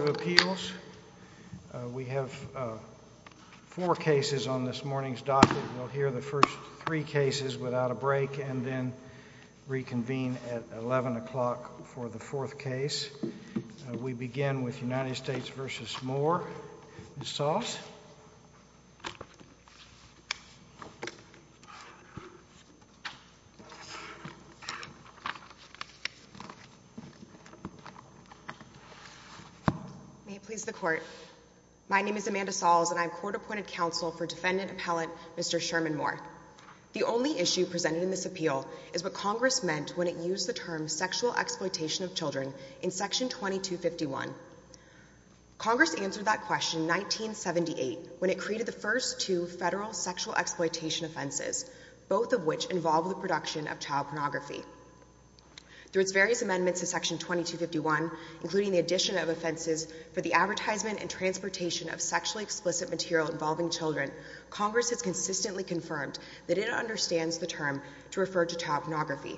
Appeals. We have four cases on this morning's docket. We'll hear the first three cases without a break and then reconvene at 11 o'clock for the fourth case. We begin with United States May it please the court. My name is Amanda Sahls and I'm court appointed counsel for defendant appellant Mr. Sherman Moore. The only issue presented in this appeal is what Congress meant when it used the term sexual exploitation of children in section 2251. Congress answered that question in 1978 when it created the first two federal sexual exploitation offenses, both of which involve the production of child pornography. Through its various amendments to section 2251, including the addition of offenses for the advertisement and transportation of sexually explicit material involving children, Congress has consistently confirmed that it understands the term to refer to child pornography.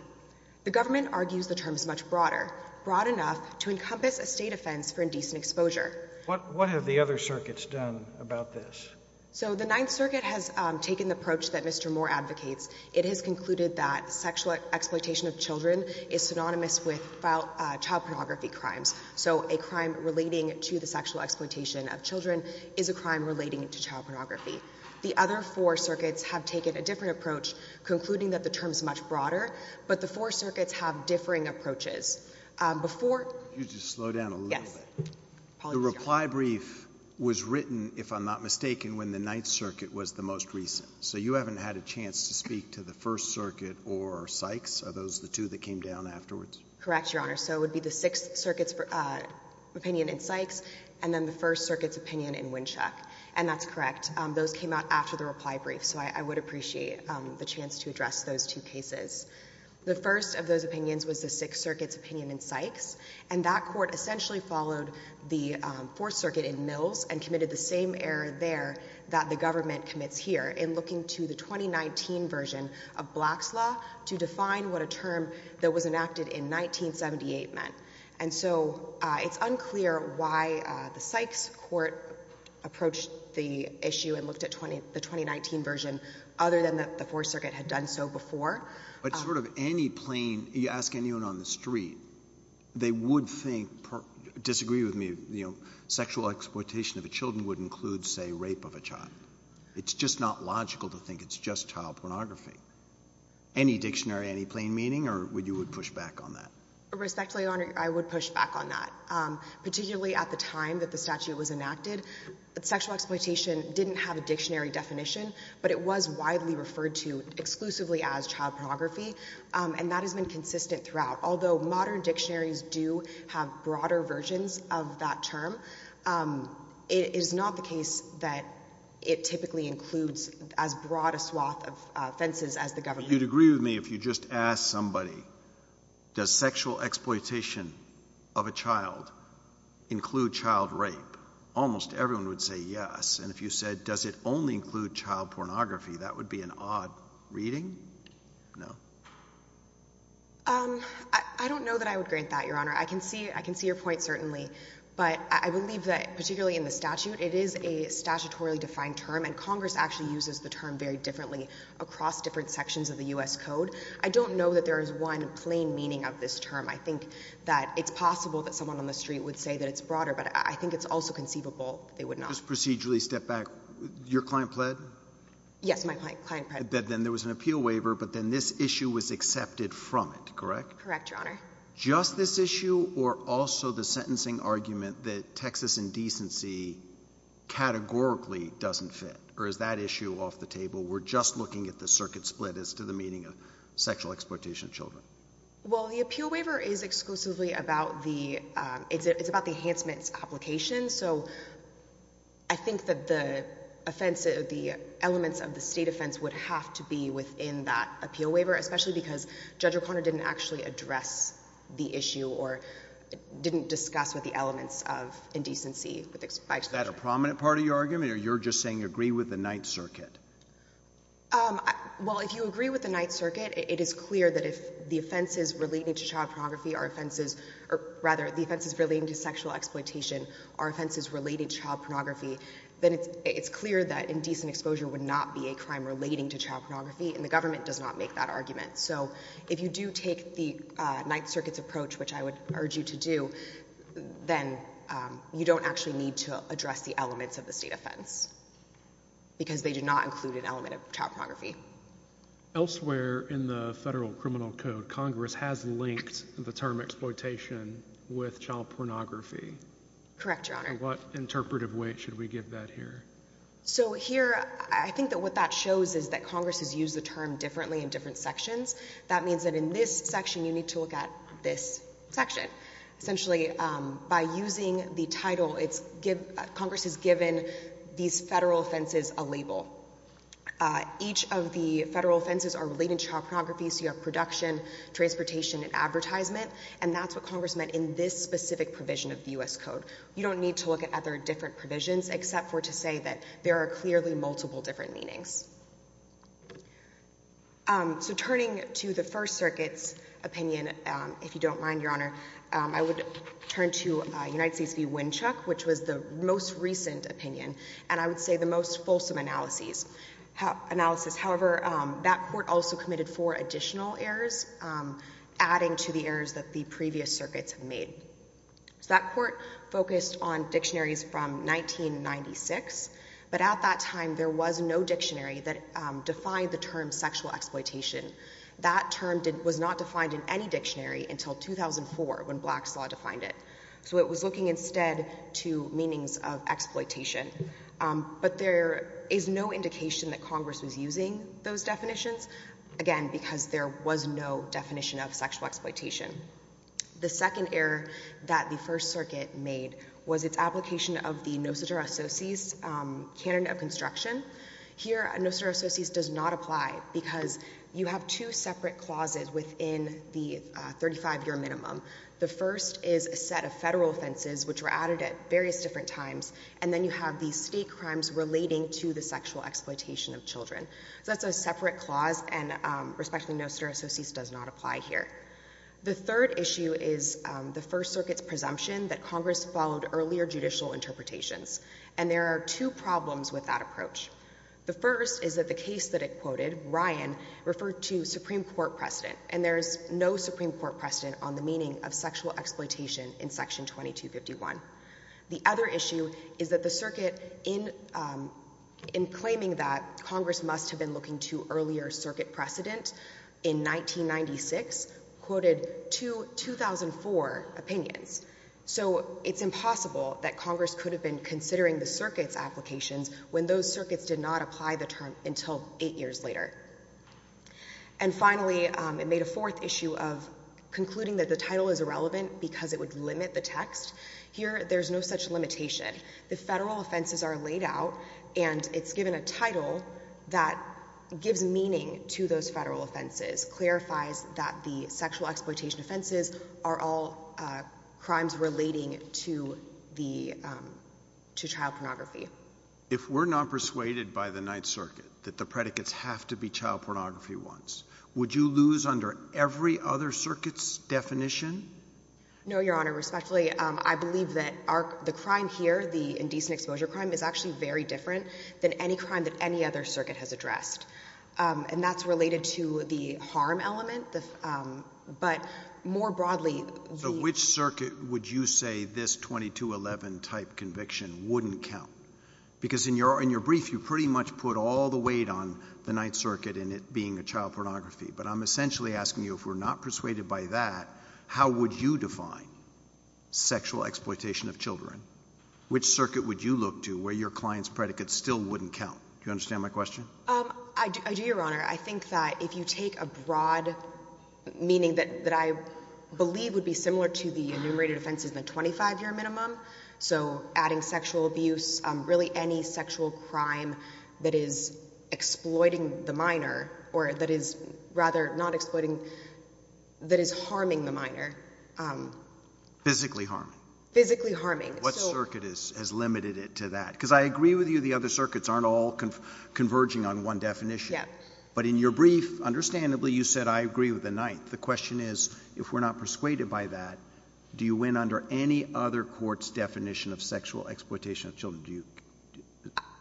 The government argues the term is much broader, broad enough to encompass a state offense for indecent exposure. What have the other circuits done about this? So the Ninth Circuit has taken the approach that Mr. Moore advocates. It has concluded that sexual exploitation of children is synonymous with child pornography crimes. So a crime relating to the sexual exploitation of children is a crime relating to child pornography. The other four circuits have taken a different approach, concluding that the term is much broader, but the four circuits have differing approaches. Before you just slow down a little bit, the reply brief was written, if I'm not mistaken, when the Ninth Circuit was the most recent. So you haven't had a chance to speak to the First Circuit or Sykes? Are those the two that came down afterwards? Correct, Your Honor. So it would be the Sixth Circuit's opinion in Sykes, and then the First Circuit's opinion in Winchuck. And that's correct. Those came out after the reply brief. So I would appreciate the chance to address those two cases. The first of those opinions was the Sixth Circuit's opinion in Sykes, and that court essentially followed the Fourth Circuit in Mills and committed the same error there that the government commits here in looking to the 2019 version of Black's Law to define what a term that was enacted in 1978 meant. And so it's unclear why the Sykes court approached the issue and looked at the 2019 version other than that the Fourth Circuit had done so before. But sort of any plain, you ask anyone on the street, they would think, disagree with me, you know, sexual exploitation of the children would include, say, rape of a child. It's just not logical to think it's just child pornography. Any dictionary, any plain meaning, or would you push back on that? Respectfully, Your Honor, I would push back on that. Particularly at the time that the statute was enacted, sexual exploitation didn't have a dictionary definition, but it was widely referred to exclusively as child pornography. And that has been consistent throughout. Although modern dictionaries do have broader versions of that term, it is not the case that it typically includes as broad a swath of offenses as the government. You'd agree with me if you just asked somebody, does sexual exploitation of a child include child rape? Almost everyone would say yes. And if you said, does it only include child pornography, that would be an odd reading. No. Um, I don't know that I would grant that, Your Honor. I can see, I can see your point, certainly. But I believe that, particularly in the statute, it is a statutorily defined term, and Congress actually uses the term very differently across different sections of the U.S. Code. I don't know that there is one plain meaning of this term. I think that it's possible that someone on the street would say that it's broader, but I think it's also conceivable they would not. Just procedurally step back. Your client pled? Yes, my client pled. Then there was an appeal waiver, but then this issue was accepted from it, correct? Correct, Your Honor. Just this issue, or also the sentencing argument that Texas indecency categorically doesn't fit, or is that issue off the table? We're just looking at the circuit split as to the meaning of sexual exploitation of children. Well, the appeal waiver is exclusively about the, um, it's about the enhancements application. So I think that the offense, the elements of the state offense would have to be within that appeal waiver, especially because Judge O'Connor didn't actually address the issue or didn't discuss with the elements of indecency. Is that a prominent part of your argument, or you're just saying agree with the Ninth Circuit? Well, if you agree with the Ninth Circuit, it is clear that if the offenses relating to child pornography, then it's clear that indecent exposure would not be a crime relating to child pornography, and the government does not make that argument. So if you do take the Ninth Circuit's approach, which I would urge you to do, then you don't actually need to address the elements of the state offense because they do not include an element of child pornography. Elsewhere in the federal criminal code, Congress has linked the term exploitation with child pornography. Correct, Your Honor. What interpretive weight should we give that here? So here, I think that what that shows is that Congress has used the term differently in different sections. That means that in this section, you need to look at this section. Essentially, by using the title, it's, Congress has given these federal offenses a label. Each of the federal offenses are related to child pornography, so you have production, transportation, and advertisement, and that's what Congress meant in this specific provision of the U.S. Code. You don't need to look at other different provisions except for to say that there are clearly multiple different meanings. So turning to the First Circuit's opinion, if you don't mind, Your Honor, I would turn to United States v. Winchuck, which was the most recent opinion, and I would say the most fulsome analysis. However, that court also committed four additional errors, adding to the errors that the previous circuits have made. So that court focused on dictionaries from 1996, but at that time, there was no dictionary that defined the term sexual exploitation. That term was not defined in any dictionary until 2004, when Black's Law defined it. So it was looking instead to meanings of exploitation. But there is no indication that Congress was using those definitions, again, because there was no definition of sexual exploitation. The second error that the First Circuit made was its application of the Noster Associates Canon of Construction. Here, Noster Associates does not apply because you have two separate clauses within the 35-year minimum. The first is a set of federal offenses, which were added at various different times, and then you have these state crimes relating to the sexual exploitation of children. So that's a separate clause, and respectfully, Noster Associates does not apply here. The third issue is the First Circuit's presumption that Congress followed earlier judicial interpretations, and there are two problems with that approach. The first is that the case that it quoted, Ryan, referred to Supreme Court precedent, and there is no Supreme Court precedent on the meaning of sexual exploitation in Section 2251. The other issue is that the circuit, in claiming that Congress must have been looking to earlier circuit precedent in 1996, quoted two 2004 opinions. So it's impossible that Congress could have been considering the circuit's applications when those circuits did not apply the term until eight years later. And finally, it made a fourth issue of concluding that the title is irrelevant because it would limit the text. Here, there's no such limitation. The federal title that gives meaning to those federal offenses clarifies that the sexual exploitation offenses are all crimes relating to child pornography. If we're not persuaded by the Ninth Circuit that the predicates have to be child pornography ones, would you lose under every other circuit's definition? No, Your Honor. Respectfully, I believe that the crime here, the indecent exposure crime, is actually very different than any crime that any other circuit has addressed. And that's related to the harm element, but more broadly... So which circuit would you say this 2211 type conviction wouldn't count? Because in your brief, you pretty much put all the weight on the Ninth Circuit and it being a child pornography. But I'm essentially asking you, if we're not persuaded by that, how would you define sexual exploitation of children? Which circuit would you look to where your client's predicates still wouldn't count? Do you understand my question? I do, Your Honor. I think that if you take a broad meaning that I believe would be similar to the enumerated offenses in the 25-year minimum, so adding sexual abuse, really any sexual crime that is exploiting the minor... Physically harming? Physically harming. What circuit has limited it to that? Because I agree with you, the other circuits aren't all converging on one definition. But in your brief, understandably, you said, I agree with the Ninth. The question is, if we're not persuaded by that, do you win under any other court's definition of sexual exploitation of children?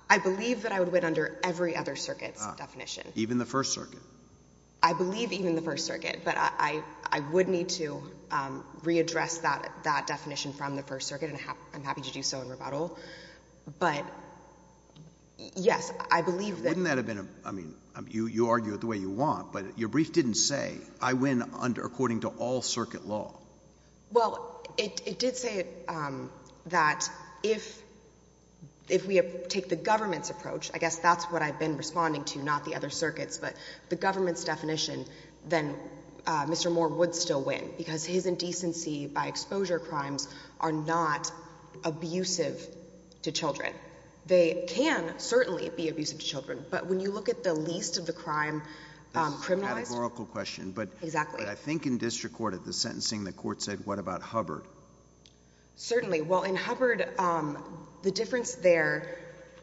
I believe that I would win under every other circuit's definition. Even the First Circuit? I believe even the First Circuit, but I would need to readdress that definition from the First Circuit, and I'm happy to do so in rebuttal. But yes, I believe that... Wouldn't that have been, I mean, you argue it the way you want, but your brief didn't say, I win under according to all circuit law. Well, it did say that if we take the government's approach, I guess that's what I've been responding to, not the other circuits, but the government's definition, then Mr. Moore would still win because his indecency by exposure crimes are not abusive to children. They can certainly be abusive to children, but when you look at the least of the crime criminalized... This is a categorical question, but... Exactly. But I think in district court, at the sentencing, the court said, what about Hubbard? Certainly. Well, in Hubbard, the difference there...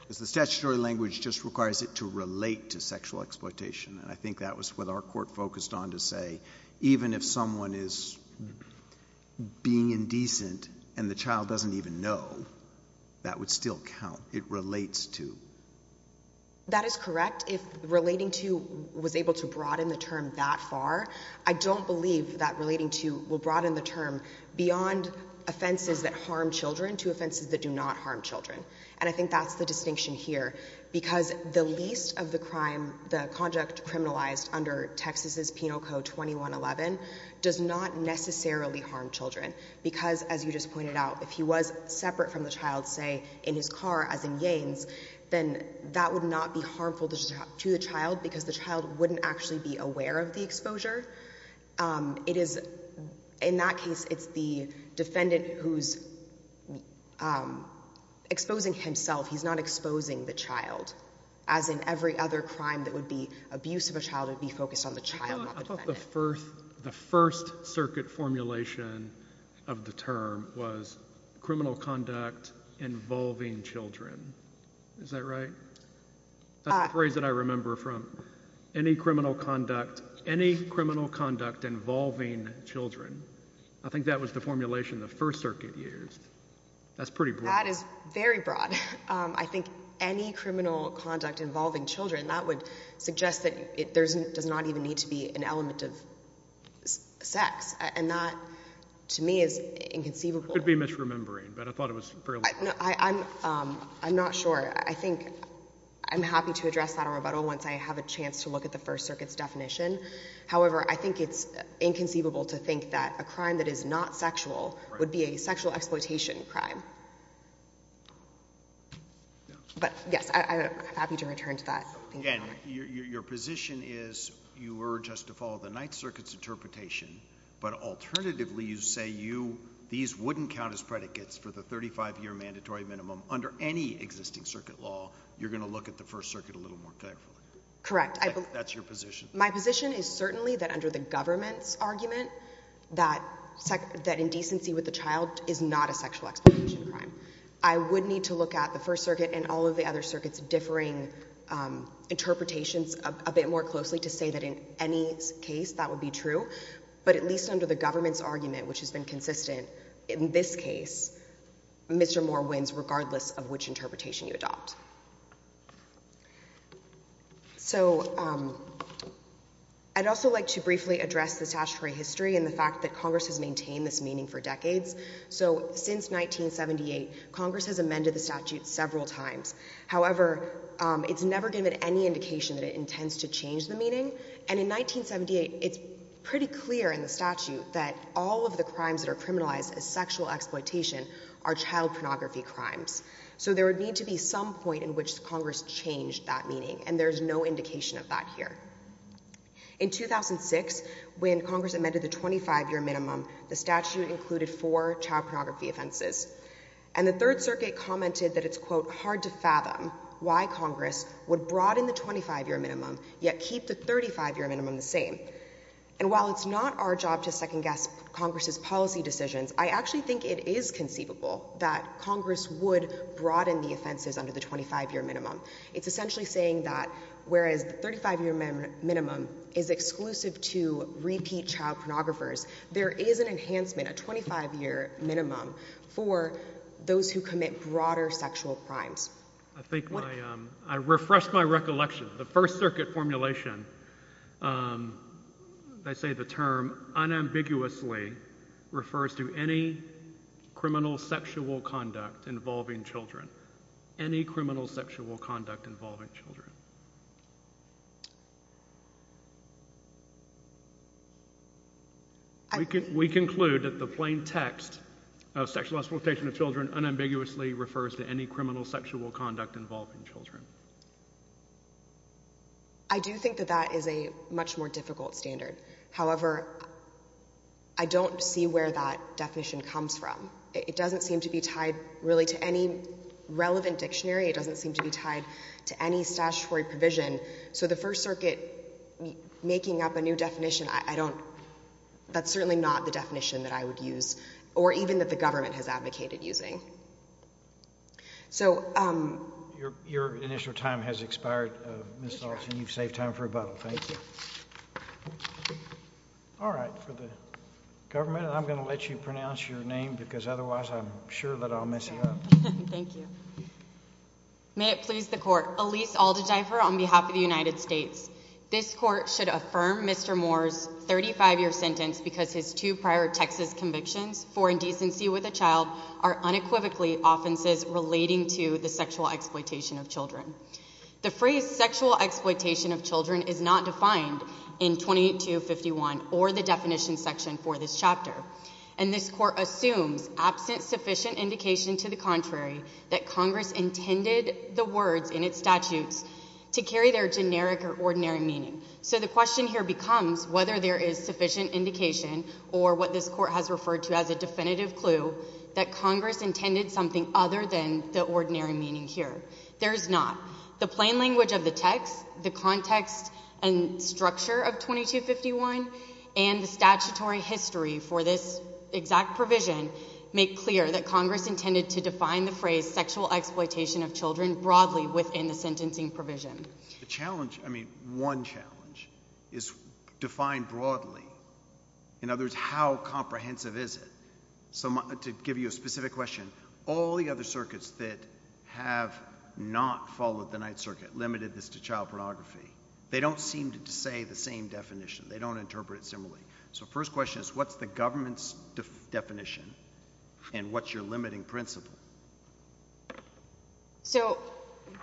The statutory language just requires it to relate to sexual exploitation, and I think that was what our court focused on to say, even if someone is being indecent and the child doesn't even know, that would still count. It relates to... That is correct. If relating to was able to broaden the term that far, I don't believe that relating to will broaden the term beyond offenses that harm children to offenses that do not harm children. And I think that's the distinction here, because the least of the crime, the conduct criminalized under Texas's Penal Code 2111 does not necessarily harm children. Because, as you just pointed out, if he was separate from the child, say in his car, as in Yanes, then that would not be harmful to the child because the child wouldn't actually be aware of the exposure. In that case, it's the defendant who's exposing himself. He's not exposing the child, as in every other crime that would be abuse of a child would be focused on the child, not the defendant. I thought the first circuit formulation of the term was criminal conduct involving children. Is that right? That's the phrase that I remember from any criminal conduct, any criminal conduct involving children. I think that was the formulation the first circuit used. That's pretty broad. That is very broad. I think any criminal conduct involving children, that would suggest that there does not even need to be an element of sex. And that, to me, is inconceivable. I could be misremembering, but I thought it was fairly clear. I'm not sure. I think I'm happy to address that in rebuttal once I have a chance to look at the first circuit's definition. However, I think it's inconceivable to think that a crime that is not sexual would be a sexual exploitation crime. But yes, I'm happy to return to that. Your position is you alternatively, you say these wouldn't count as predicates for the 35-year mandatory minimum under any existing circuit law. You're going to look at the first circuit a little more carefully. Correct. That's your position. My position is certainly that under the government's argument that indecency with the child is not a sexual exploitation crime. I would need to look at the first circuit and all of the other circuits differing interpretations a bit more closely to say that in any case that would be true. But at least under the government's argument, which has been consistent in this case, Mr. Moore wins regardless of which interpretation you adopt. So I'd also like to briefly address the statutory history and the fact that Congress has maintained this meaning for decades. So since 1978, Congress has amended the statute several times. However, it's never given any indication that it intends to change the meaning. And in 1978, it's pretty clear in the statute that all of the crimes that are criminalized as sexual exploitation are child pornography crimes. So there would need to be some point in which Congress changed that meaning. And there's no indication of that here. In 2006, when Congress amended the 25-year minimum, the statute included four child pornography offenses. And the Third Circuit commented that it's, quote, hard to fathom why Congress would broaden the 25-year minimum yet keep the 35-year minimum the same. And while it's not our job to second-guess Congress's policy decisions, I actually think it is conceivable that Congress would broaden the offenses under the 25-year minimum. It's essentially saying that whereas the 35-year minimum is exclusive to repeat child pornographers, there is an enhancement, a 25-year minimum, for those who commit broader sexual crimes. I think I refreshed my recollection. The First Circuit formulation, they say the term unambiguously refers to any criminal sexual conduct involving children, any criminal sexual conduct involving children. We conclude that the plain text of sexual exploitation of children unambiguously refers to any criminal sexual conduct involving children. I do think that that is a much more difficult standard. However, I don't see where that definition comes from. It doesn't seem to be relevant dictionary. It doesn't seem to be tied to any statutory provision. So the First Circuit making up a new definition, I don't—that's certainly not the definition that I would use or even that the government has advocated using. So— Your initial time has expired, Ms. Alston. You've saved time for rebuttal. Thank you. All right. For the government, I'm going to let you pronounce your name because otherwise I'm sure that I'll mess you up. Thank you. May it please the Court. Elyse Aldedgeifer on behalf of the United States. This Court should affirm Mr. Moore's 35-year sentence because his two prior Texas convictions for indecency with a child are unequivocally offenses relating to the sexual exploitation of children. The phrase sexual exploitation of children is not defined in 28251 or the indication to the contrary that Congress intended the words in its statutes to carry their generic or ordinary meaning. So the question here becomes whether there is sufficient indication or what this Court has referred to as a definitive clue that Congress intended something other than the ordinary meaning here. There is not. The plain language of the text, the context and structure of 2251 and the statutory history for this exact provision make clear that Congress intended to define the phrase sexual exploitation of children broadly within the sentencing provision. The challenge, I mean one challenge, is defined broadly. In other words, how comprehensive is it? So to give you a specific question, all the other circuits that have not followed the Ninth Circuit limited this to child pornography, they don't seem to say the same definition. They don't interpret it similarly. So first question is what's the government's definition and what's your limiting principle? So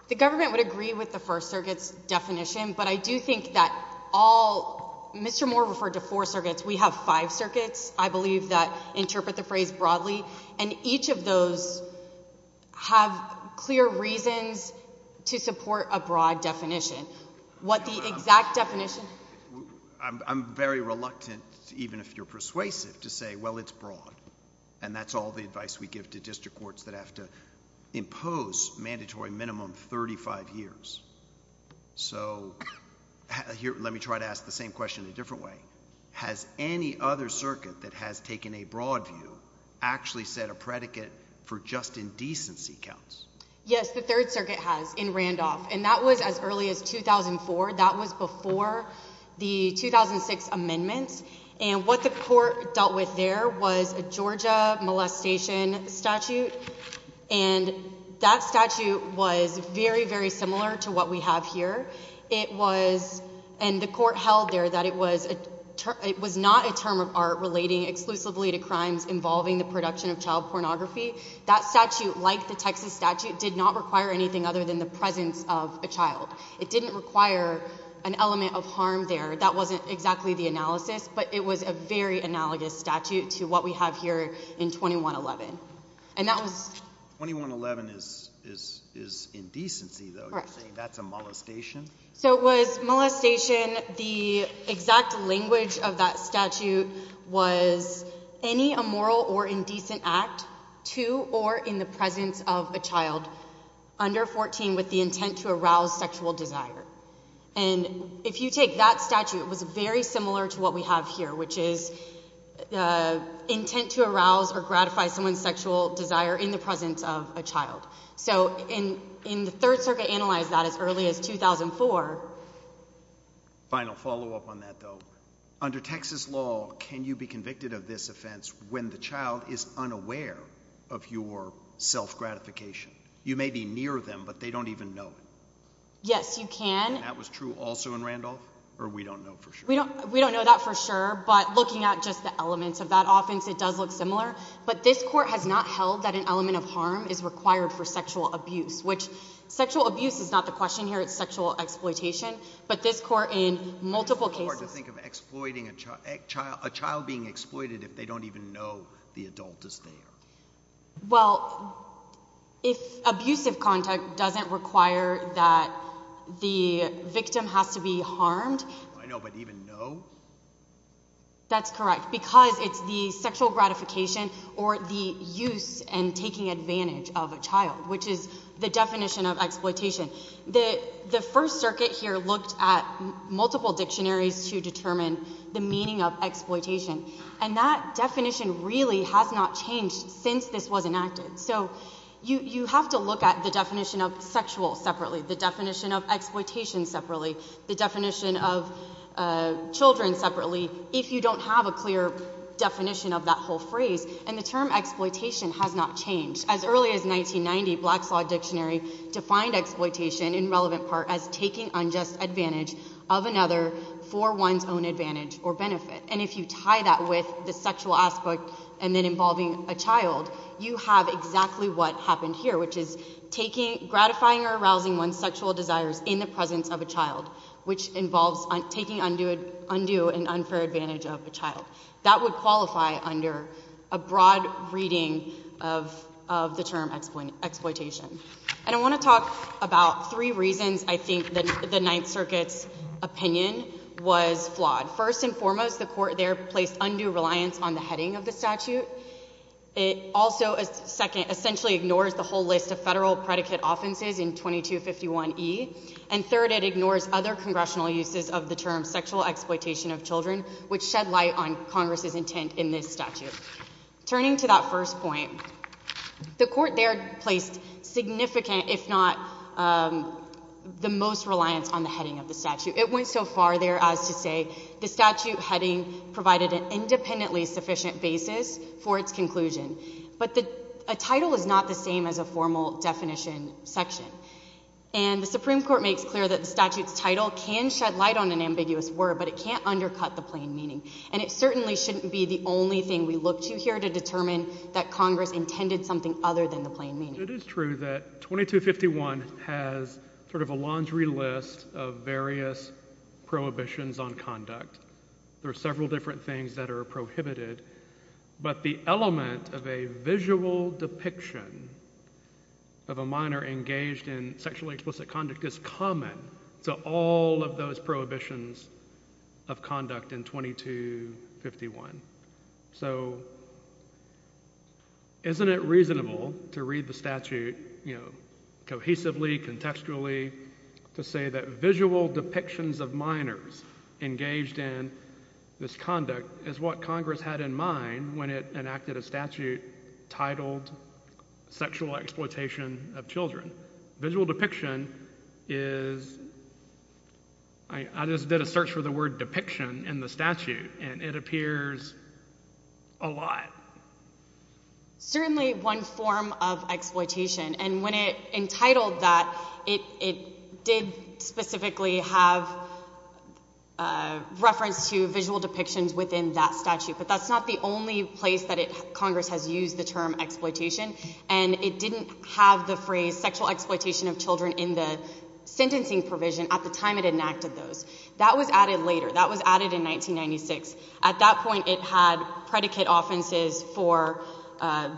the government would agree with the First Circuit's definition, but I do think that all, Mr. Moore referred to four circuits. We have five circuits, I believe, that interpret the phrase definition. What the exact definition? I'm very reluctant, even if you're persuasive, to say well it's broad and that's all the advice we give to district courts that have to impose mandatory minimum 35 years. So here, let me try to ask the same question in a different way. Has any other circuit that has taken a broad view actually set a predicate for just indecency counts? Yes, the Third Circuit, that was as early as 2004. That was before the 2006 amendments and what the court dealt with there was a Georgia molestation statute and that statute was very, very similar to what we have here. It was, and the court held there, that it was not a term of art relating exclusively to crimes involving the production of child pornography. That statute, like the Texas statute, did not require anything other than the presence of a child. It didn't require an element of harm there. That wasn't exactly the analysis, but it was a very analogous statute to what we have here in 2111. 2111 is indecency though, you're saying that's a molestation? So it was molestation, the exact language of that statute was any immoral or indecent act to or in the presence of a child under 14 with the intent to arouse sexual desire. And if you take that statute, it was very similar to what we have here, which is the intent to arouse or gratify someone's sexual desire in the presence of a child. So in the Third Circuit analyzed that as early as 2004. Final follow-up on that though, under Texas law, can you be convicted of this offense when the child is unaware of your self-gratification? You may be near them, but they don't even know it. Yes, you can. And that was true also in Randolph, or we don't know for sure? We don't know that for sure, but looking at just the elements of that offense, it does look similar. But this court has not held that an element of harm is required for sexual abuse, which sexual abuse is not the question here, it's sexual exploitation. But this court in multiple cases... It's hard to think of a child being exploited if they don't even know the adult is there. Well, if abusive contact doesn't require that the victim has to be harmed... I know, but even know? That's correct, because it's the sexual gratification or the use and taking advantage of a child, which is the definition of exploitation. The First Circuit here looked at the meaning of exploitation, and that definition really has not changed since this was enacted. So you have to look at the definition of sexual separately, the definition of exploitation separately, the definition of children separately, if you don't have a clear definition of that whole phrase. And the term exploitation has not changed. As early as 1990, Black's Law Dictionary defined exploitation in relevant part as taking unjust advantage of another for one's own advantage or benefit. And if you tie that with the sexual aspect and then involving a child, you have exactly what happened here, which is gratifying or arousing one's sexual desires in the presence of a child, which involves taking undue and unfair advantage of a child. That would qualify under a broad reading of the term exploitation. And I want to talk about three reasons I think the Ninth Circuit's opinion was flawed. First and foremost, the Court there placed undue reliance on the heading of the statute. It also essentially ignores the whole list of federal predicate offenses in 2251E. And third, it ignores other congressional uses of the term sexual exploitation of children, which shed light on Congress's intent in this statute. Turning to that first point, the Court there placed significant, if not the most, reliance on the heading of the statute. It went so far there as to say the statute heading provided an independently sufficient basis for its conclusion. But the title is not the same as a formal definition section. And the Supreme Court makes clear that the statute's title can shed light on an ambiguous word, but it can't undercut the plain meaning. And it certainly shouldn't be the only thing we look to here to determine that Congress intended something other than the plain meaning. It is true that 2251 has sort of a laundry list of various prohibitions on conduct. There are several different things that are prohibited, but the element of a visual depiction of a minor engaged in sexually explicit conduct is common to all of those prohibitions of conduct in 2251. So isn't it reasonable to read the statute, you know, cohesively, contextually, to say that visual depictions of minors engaged in this conduct is what Congress had in mind when it enacted a statute titled sexual exploitation of children. Visual depiction is, I just did a search for the word depiction in the statute, and it appears a lot. Certainly one form of exploitation. And when it entitled that, it did specifically have a reference to visual depictions within that statute. But that's not the only place that Congress has used the term exploitation. And it didn't have the phrase sexual exploitation of children in the sentencing provision at the time it enacted those. That was added later. That was added in 1996. At that point, it had predicate offenses for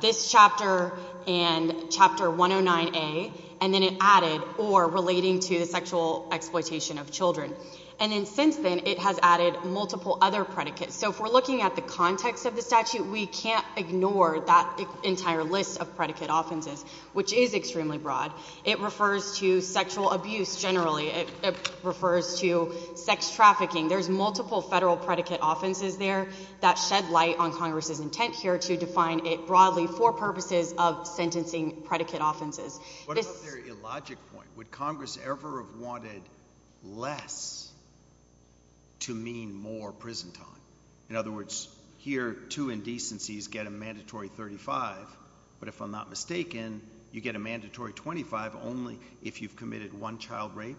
this chapter and Chapter 109A, and then it added or relating to the sexual exploitation of children. And then since then, it has added multiple other predicates. So if we're looking at the context of the statute, we can't ignore that entire list of predicate offenses, which is extremely broad. It refers to sexual abuse, generally. It refers to sex trafficking. There's multiple federal predicate offenses there that shed light on Congress's intent here to define it broadly for purposes of sentencing predicate offenses. What about their illogic point? Would Congress ever have wanted less to mean more prison time? In other words, here, two indecencies get a mandatory 35. But if I'm not mistaken, you get a mandatory 25 only if you've committed one child rape.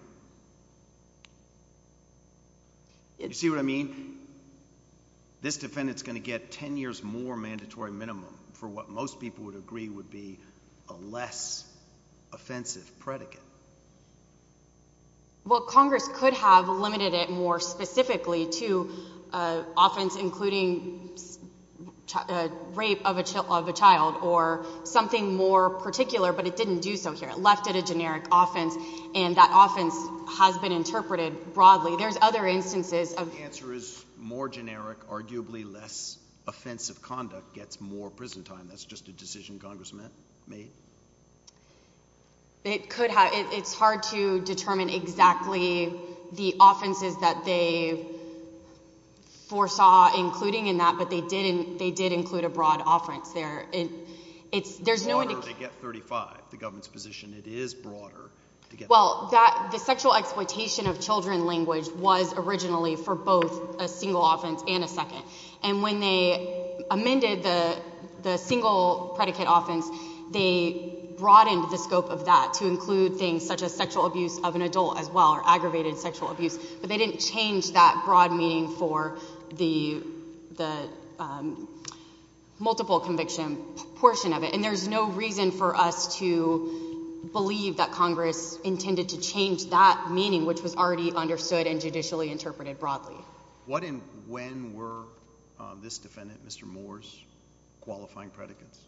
You see what I mean? This defendant's going to get 10 years more mandatory minimum for what most people would agree would be a less offensive predicate. Well, Congress could have limited it more specifically to offense including rape of a child or something more particular, but it didn't do so here. It left it a generic offense, and that offense has been interpreted broadly. There's other instances of... The answer is more generic, arguably less offensive conduct gets more prison time. That's just a decision Congress made? It's hard to determine exactly the offenses that they foresaw including in that, but they did include a broad offense there. It's broader to get 35, the government's position. It is broader to get... Well, the sexual exploitation of children language was originally for both a single offense and a second. When they amended the single predicate offense, they broadened the scope of that to include things such as sexual abuse of an adult as well or aggravated sexual abuse, but they didn't change that broad meaning for the multiple conviction portion of it. There's no reason for us to believe that Congress intended to change that meaning, which was already understood and judicially interpreted broadly. What and when were this defendant, Mr. Moore's qualifying predicates?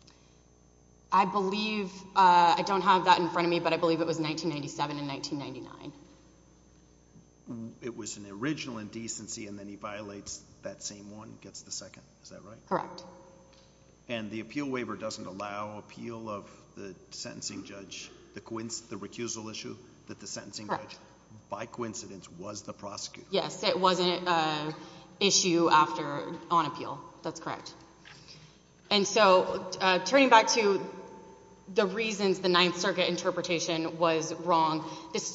I believe... I don't have that in front of me, but I believe it was 1997 and 1999. It was an original indecency, and then he violates that same one, gets the second, is that right? Correct. And the appeal waiver doesn't allow appeal of the sentencing judge, the recusal issue that the sentencing judge, by coincidence, was the prosecutor. Yes, it wasn't an issue on appeal. That's correct. And so, turning back to the reasons the Ninth Circuit interpretation was wrong,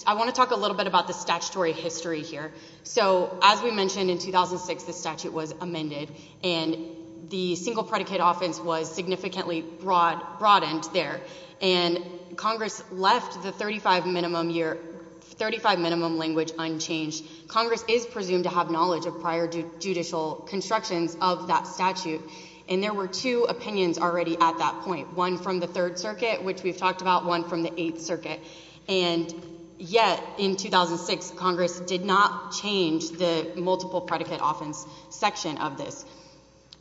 I want to talk a little bit about the statutory history here. So, as we mentioned, in 2006, the statute was amended, and the single predicate offense was 35 minimum language unchanged. Congress is presumed to have knowledge of prior judicial constructions of that statute, and there were two opinions already at that point, one from the Third Circuit, which we've talked about, one from the Eighth Circuit. And yet, in 2006, Congress did not change the multiple predicate offense section of this.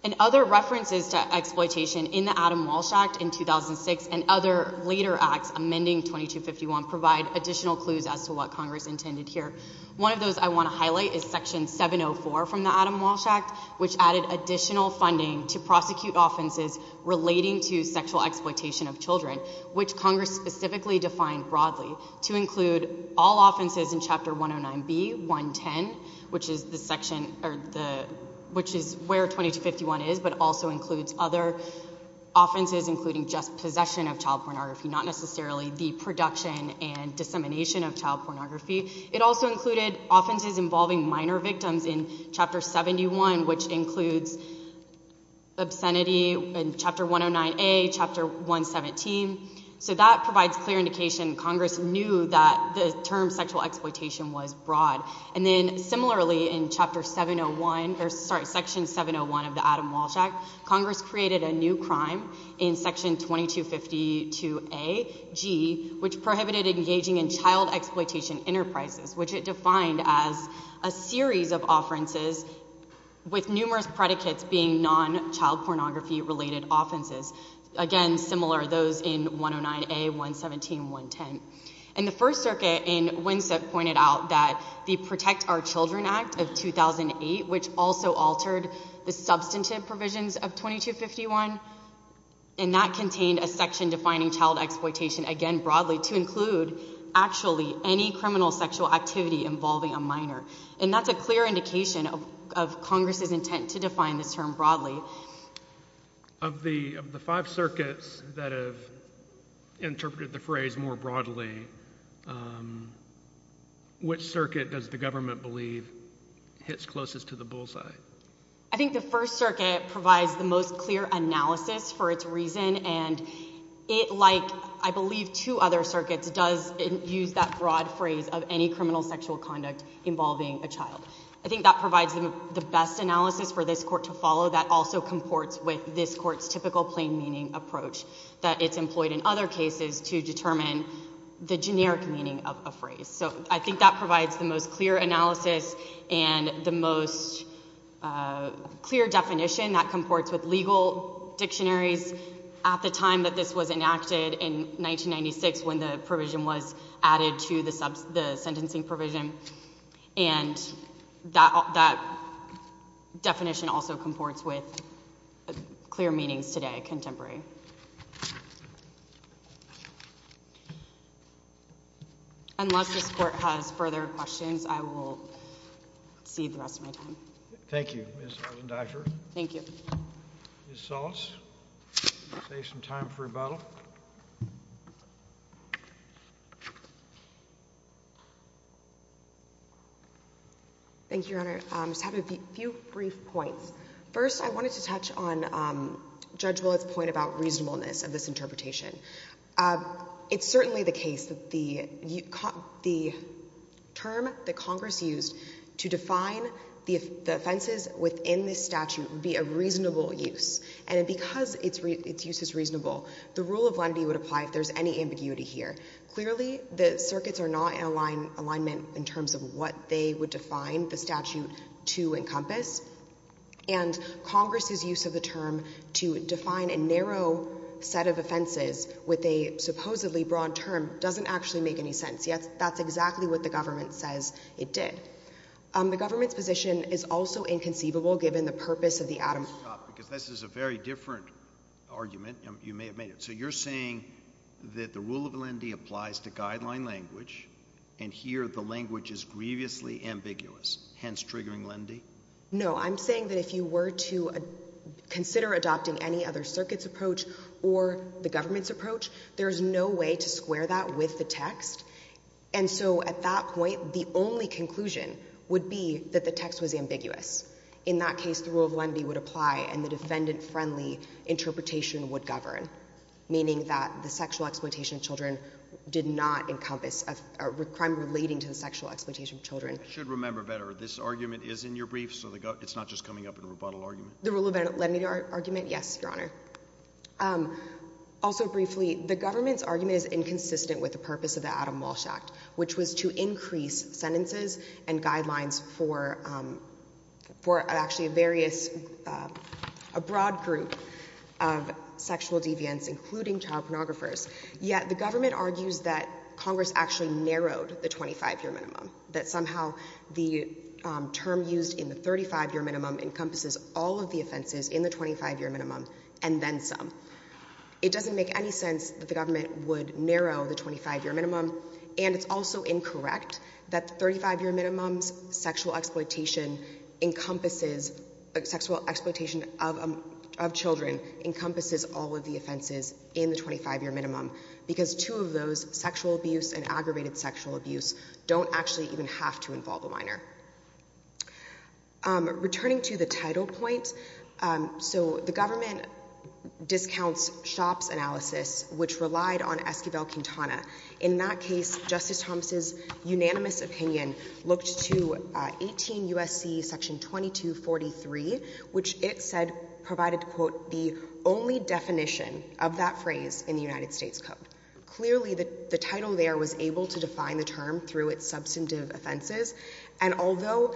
And other references to exploitation in the Adam Walsh Act in 2006 and other later acts amending 2251 provide additional clues as to what Congress intended here. One of those I want to highlight is Section 704 from the Adam Walsh Act, which added additional funding to prosecute offenses relating to sexual exploitation of children, which Congress specifically defined broadly to include all offenses in Chapter 109B, 110, which is the section, which is where 2251 is, but also includes other production and dissemination of child pornography. It also included offenses involving minor victims in Chapter 71, which includes obscenity in Chapter 109A, Chapter 117. So that provides clear indication Congress knew that the term sexual exploitation was broad. And then, similarly, in Section 701 of the Adam Walsh Act, Congress created a new crime in Section 2252A, G, which prohibited engaging in child exploitation enterprises, which it defined as a series of offenses with numerous predicates being non-child pornography-related offenses. Again, similar, those in 109A, 117, 110. And the First Circuit in Winsett pointed out that the Protect Our Children Act of 2008, which also altered the substantive provisions of 2251, and that contained a section defining child exploitation, again, broadly, to include actually any criminal sexual activity involving a minor. And that's a clear indication of Congress's intent to define this term broadly. Of the five circuits that have interpreted the phrase more broadly, which circuit does the government believe hits closest to the bullseye? I think the First Circuit provides the most clear analysis for its reason, and it, like, I believe two other circuits, does use that broad phrase of any criminal sexual conduct involving a child. I think that provides the best analysis for this Court to follow that also comports with this Court's typical plain meaning approach that it's employed in other cases to determine the generic meaning of a phrase. So I think that provides the most clear analysis and the most clear definition that comports with legal dictionaries at the time that this was enacted in 1996 when the provision was added to the sentencing provision. And that definition also comports with clear meanings today, contemporary. Unless this Court has further questions, I will cede the rest of my time. Thank you, Ms. Arzendaifer. Thank you. Ms. Saltz, save some time for rebuttal. Thank you, Your Honor. I just have a few brief points. First, I wanted to touch on Judge It's certainly the case that the term that Congress used to define the offenses within this statute would be a reasonable use. And because its use is reasonable, the rule of lenity would apply if there's any ambiguity here. Clearly, the circuits are not in alignment in terms of what they would define the statute to encompass. And Congress's use of the term to define a narrow set of offenses with a supposedly broad term doesn't actually make any sense. Yet, that's exactly what the government says it did. The government's position is also inconceivable given the purpose of the atom. Because this is a very different argument. You may have made it. So you're saying that the rule of lenity applies to guideline language, and here the language is grievously ambiguous, hence triggering lenity? No. I'm saying that if you were to consider adopting any other circuit's approach or the government's approach, there's no way to square that with the text. And so at that point, the only conclusion would be that the text was ambiguous. In that case, the rule of lenity would apply and the defendant-friendly interpretation would govern, meaning that the sexual exploitation of children did not encompass a crime relating to the sexual exploitation of children. Should remember better, this argument is in your brief, so it's not just coming up in a rebuttal argument? The rule of lenity argument, yes, Your Honor. Also briefly, the government's argument is inconsistent with the purpose of the Adam Walsh Act, which was to increase sentences and guidelines for actually various, a broad group of sexual deviants, including child pornographers. Yet, the government argues that Congress actually narrowed the 25-year minimum, that somehow the term used in the 35-year minimum encompasses all of the offenses in the 25-year minimum and then some. It doesn't make any sense that the government would narrow the 25-year minimum, and it's also incorrect that the 35-year minimum's sexual exploitation encompasses, sexual exploitation of children encompasses all of the offenses in the 25-year minimum, because two of those, sexual abuse and aggravated sexual abuse, don't actually even have to involve a minor. Returning to the title point, so the government discounts Shopp's analysis, which relied on Esquivel-Quintana. In that case, Justice Thomas' unanimous opinion looked to 18 USC section 2243, which it said provided, quote, the only definition of that phrase in the substantive offenses. And although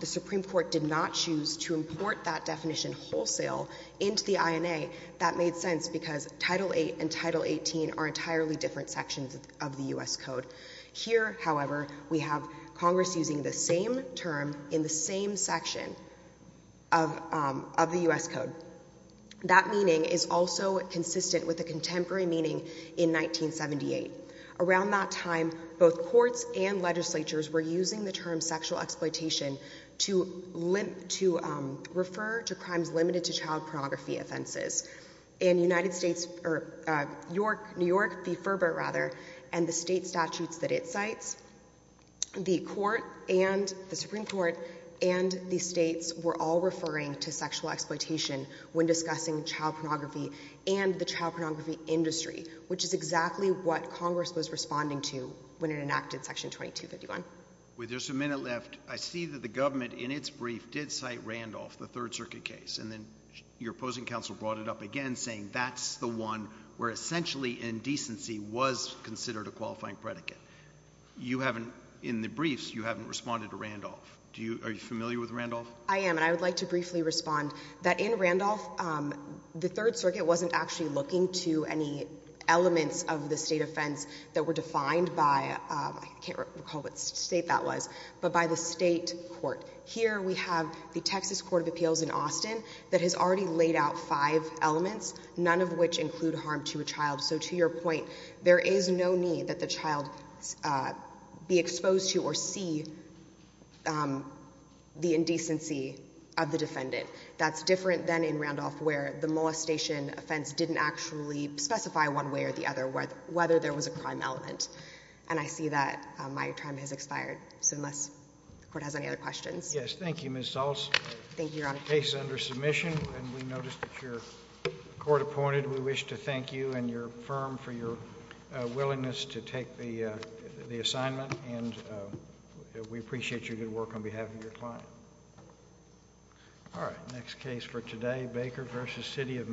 the Supreme Court did not choose to import that definition wholesale into the INA, that made sense because Title VIII and Title XVIII are entirely different sections of the U.S. Code. Here, however, we have Congress using the same term in the same section of the U.S. Code. That meaning is also consistent with the contemporary meaning in 1978. Around that time, both courts and legislatures were using the term sexual exploitation to refer to crimes limited to child pornography offenses. In New York, the state statutes that it cites, the Supreme Court and the states were all referring to sexual exploitation, which is exactly what Congress was responding to when it enacted section 2251. With just a minute left, I see that the government in its brief did cite Randolph, the Third Circuit case, and then your opposing counsel brought it up again saying that's the one where essentially indecency was considered a qualifying predicate. In the briefs, you haven't responded to Randolph. Are you familiar with Randolph? I am, and I would like to briefly respond that in Randolph, the Third Circuit wasn't actually looking to any elements of the state offense that were defined by, I can't recall what state that was, but by the state court. Here we have the Texas Court of Appeals in Austin that has already laid out five elements, none of which include harm to a child. So to your point, there is no need that the child be exposed to or see the indecency of the defendant. That's not the intention of the case. But I am concerned that if there were a crime element, it would not be a crime element. And I see that my time has expired, so unless the Court has any other questions. Yes, thank you, Ms. Zaltz. Thank you, Your Honor. Case under submission, and we noticed that your court appointed, we wish to thank you and your firm for your willingness to take the assignment and we appreciate your good work on behalf of your client. Thank you. All right, next case for today, Baker v. City of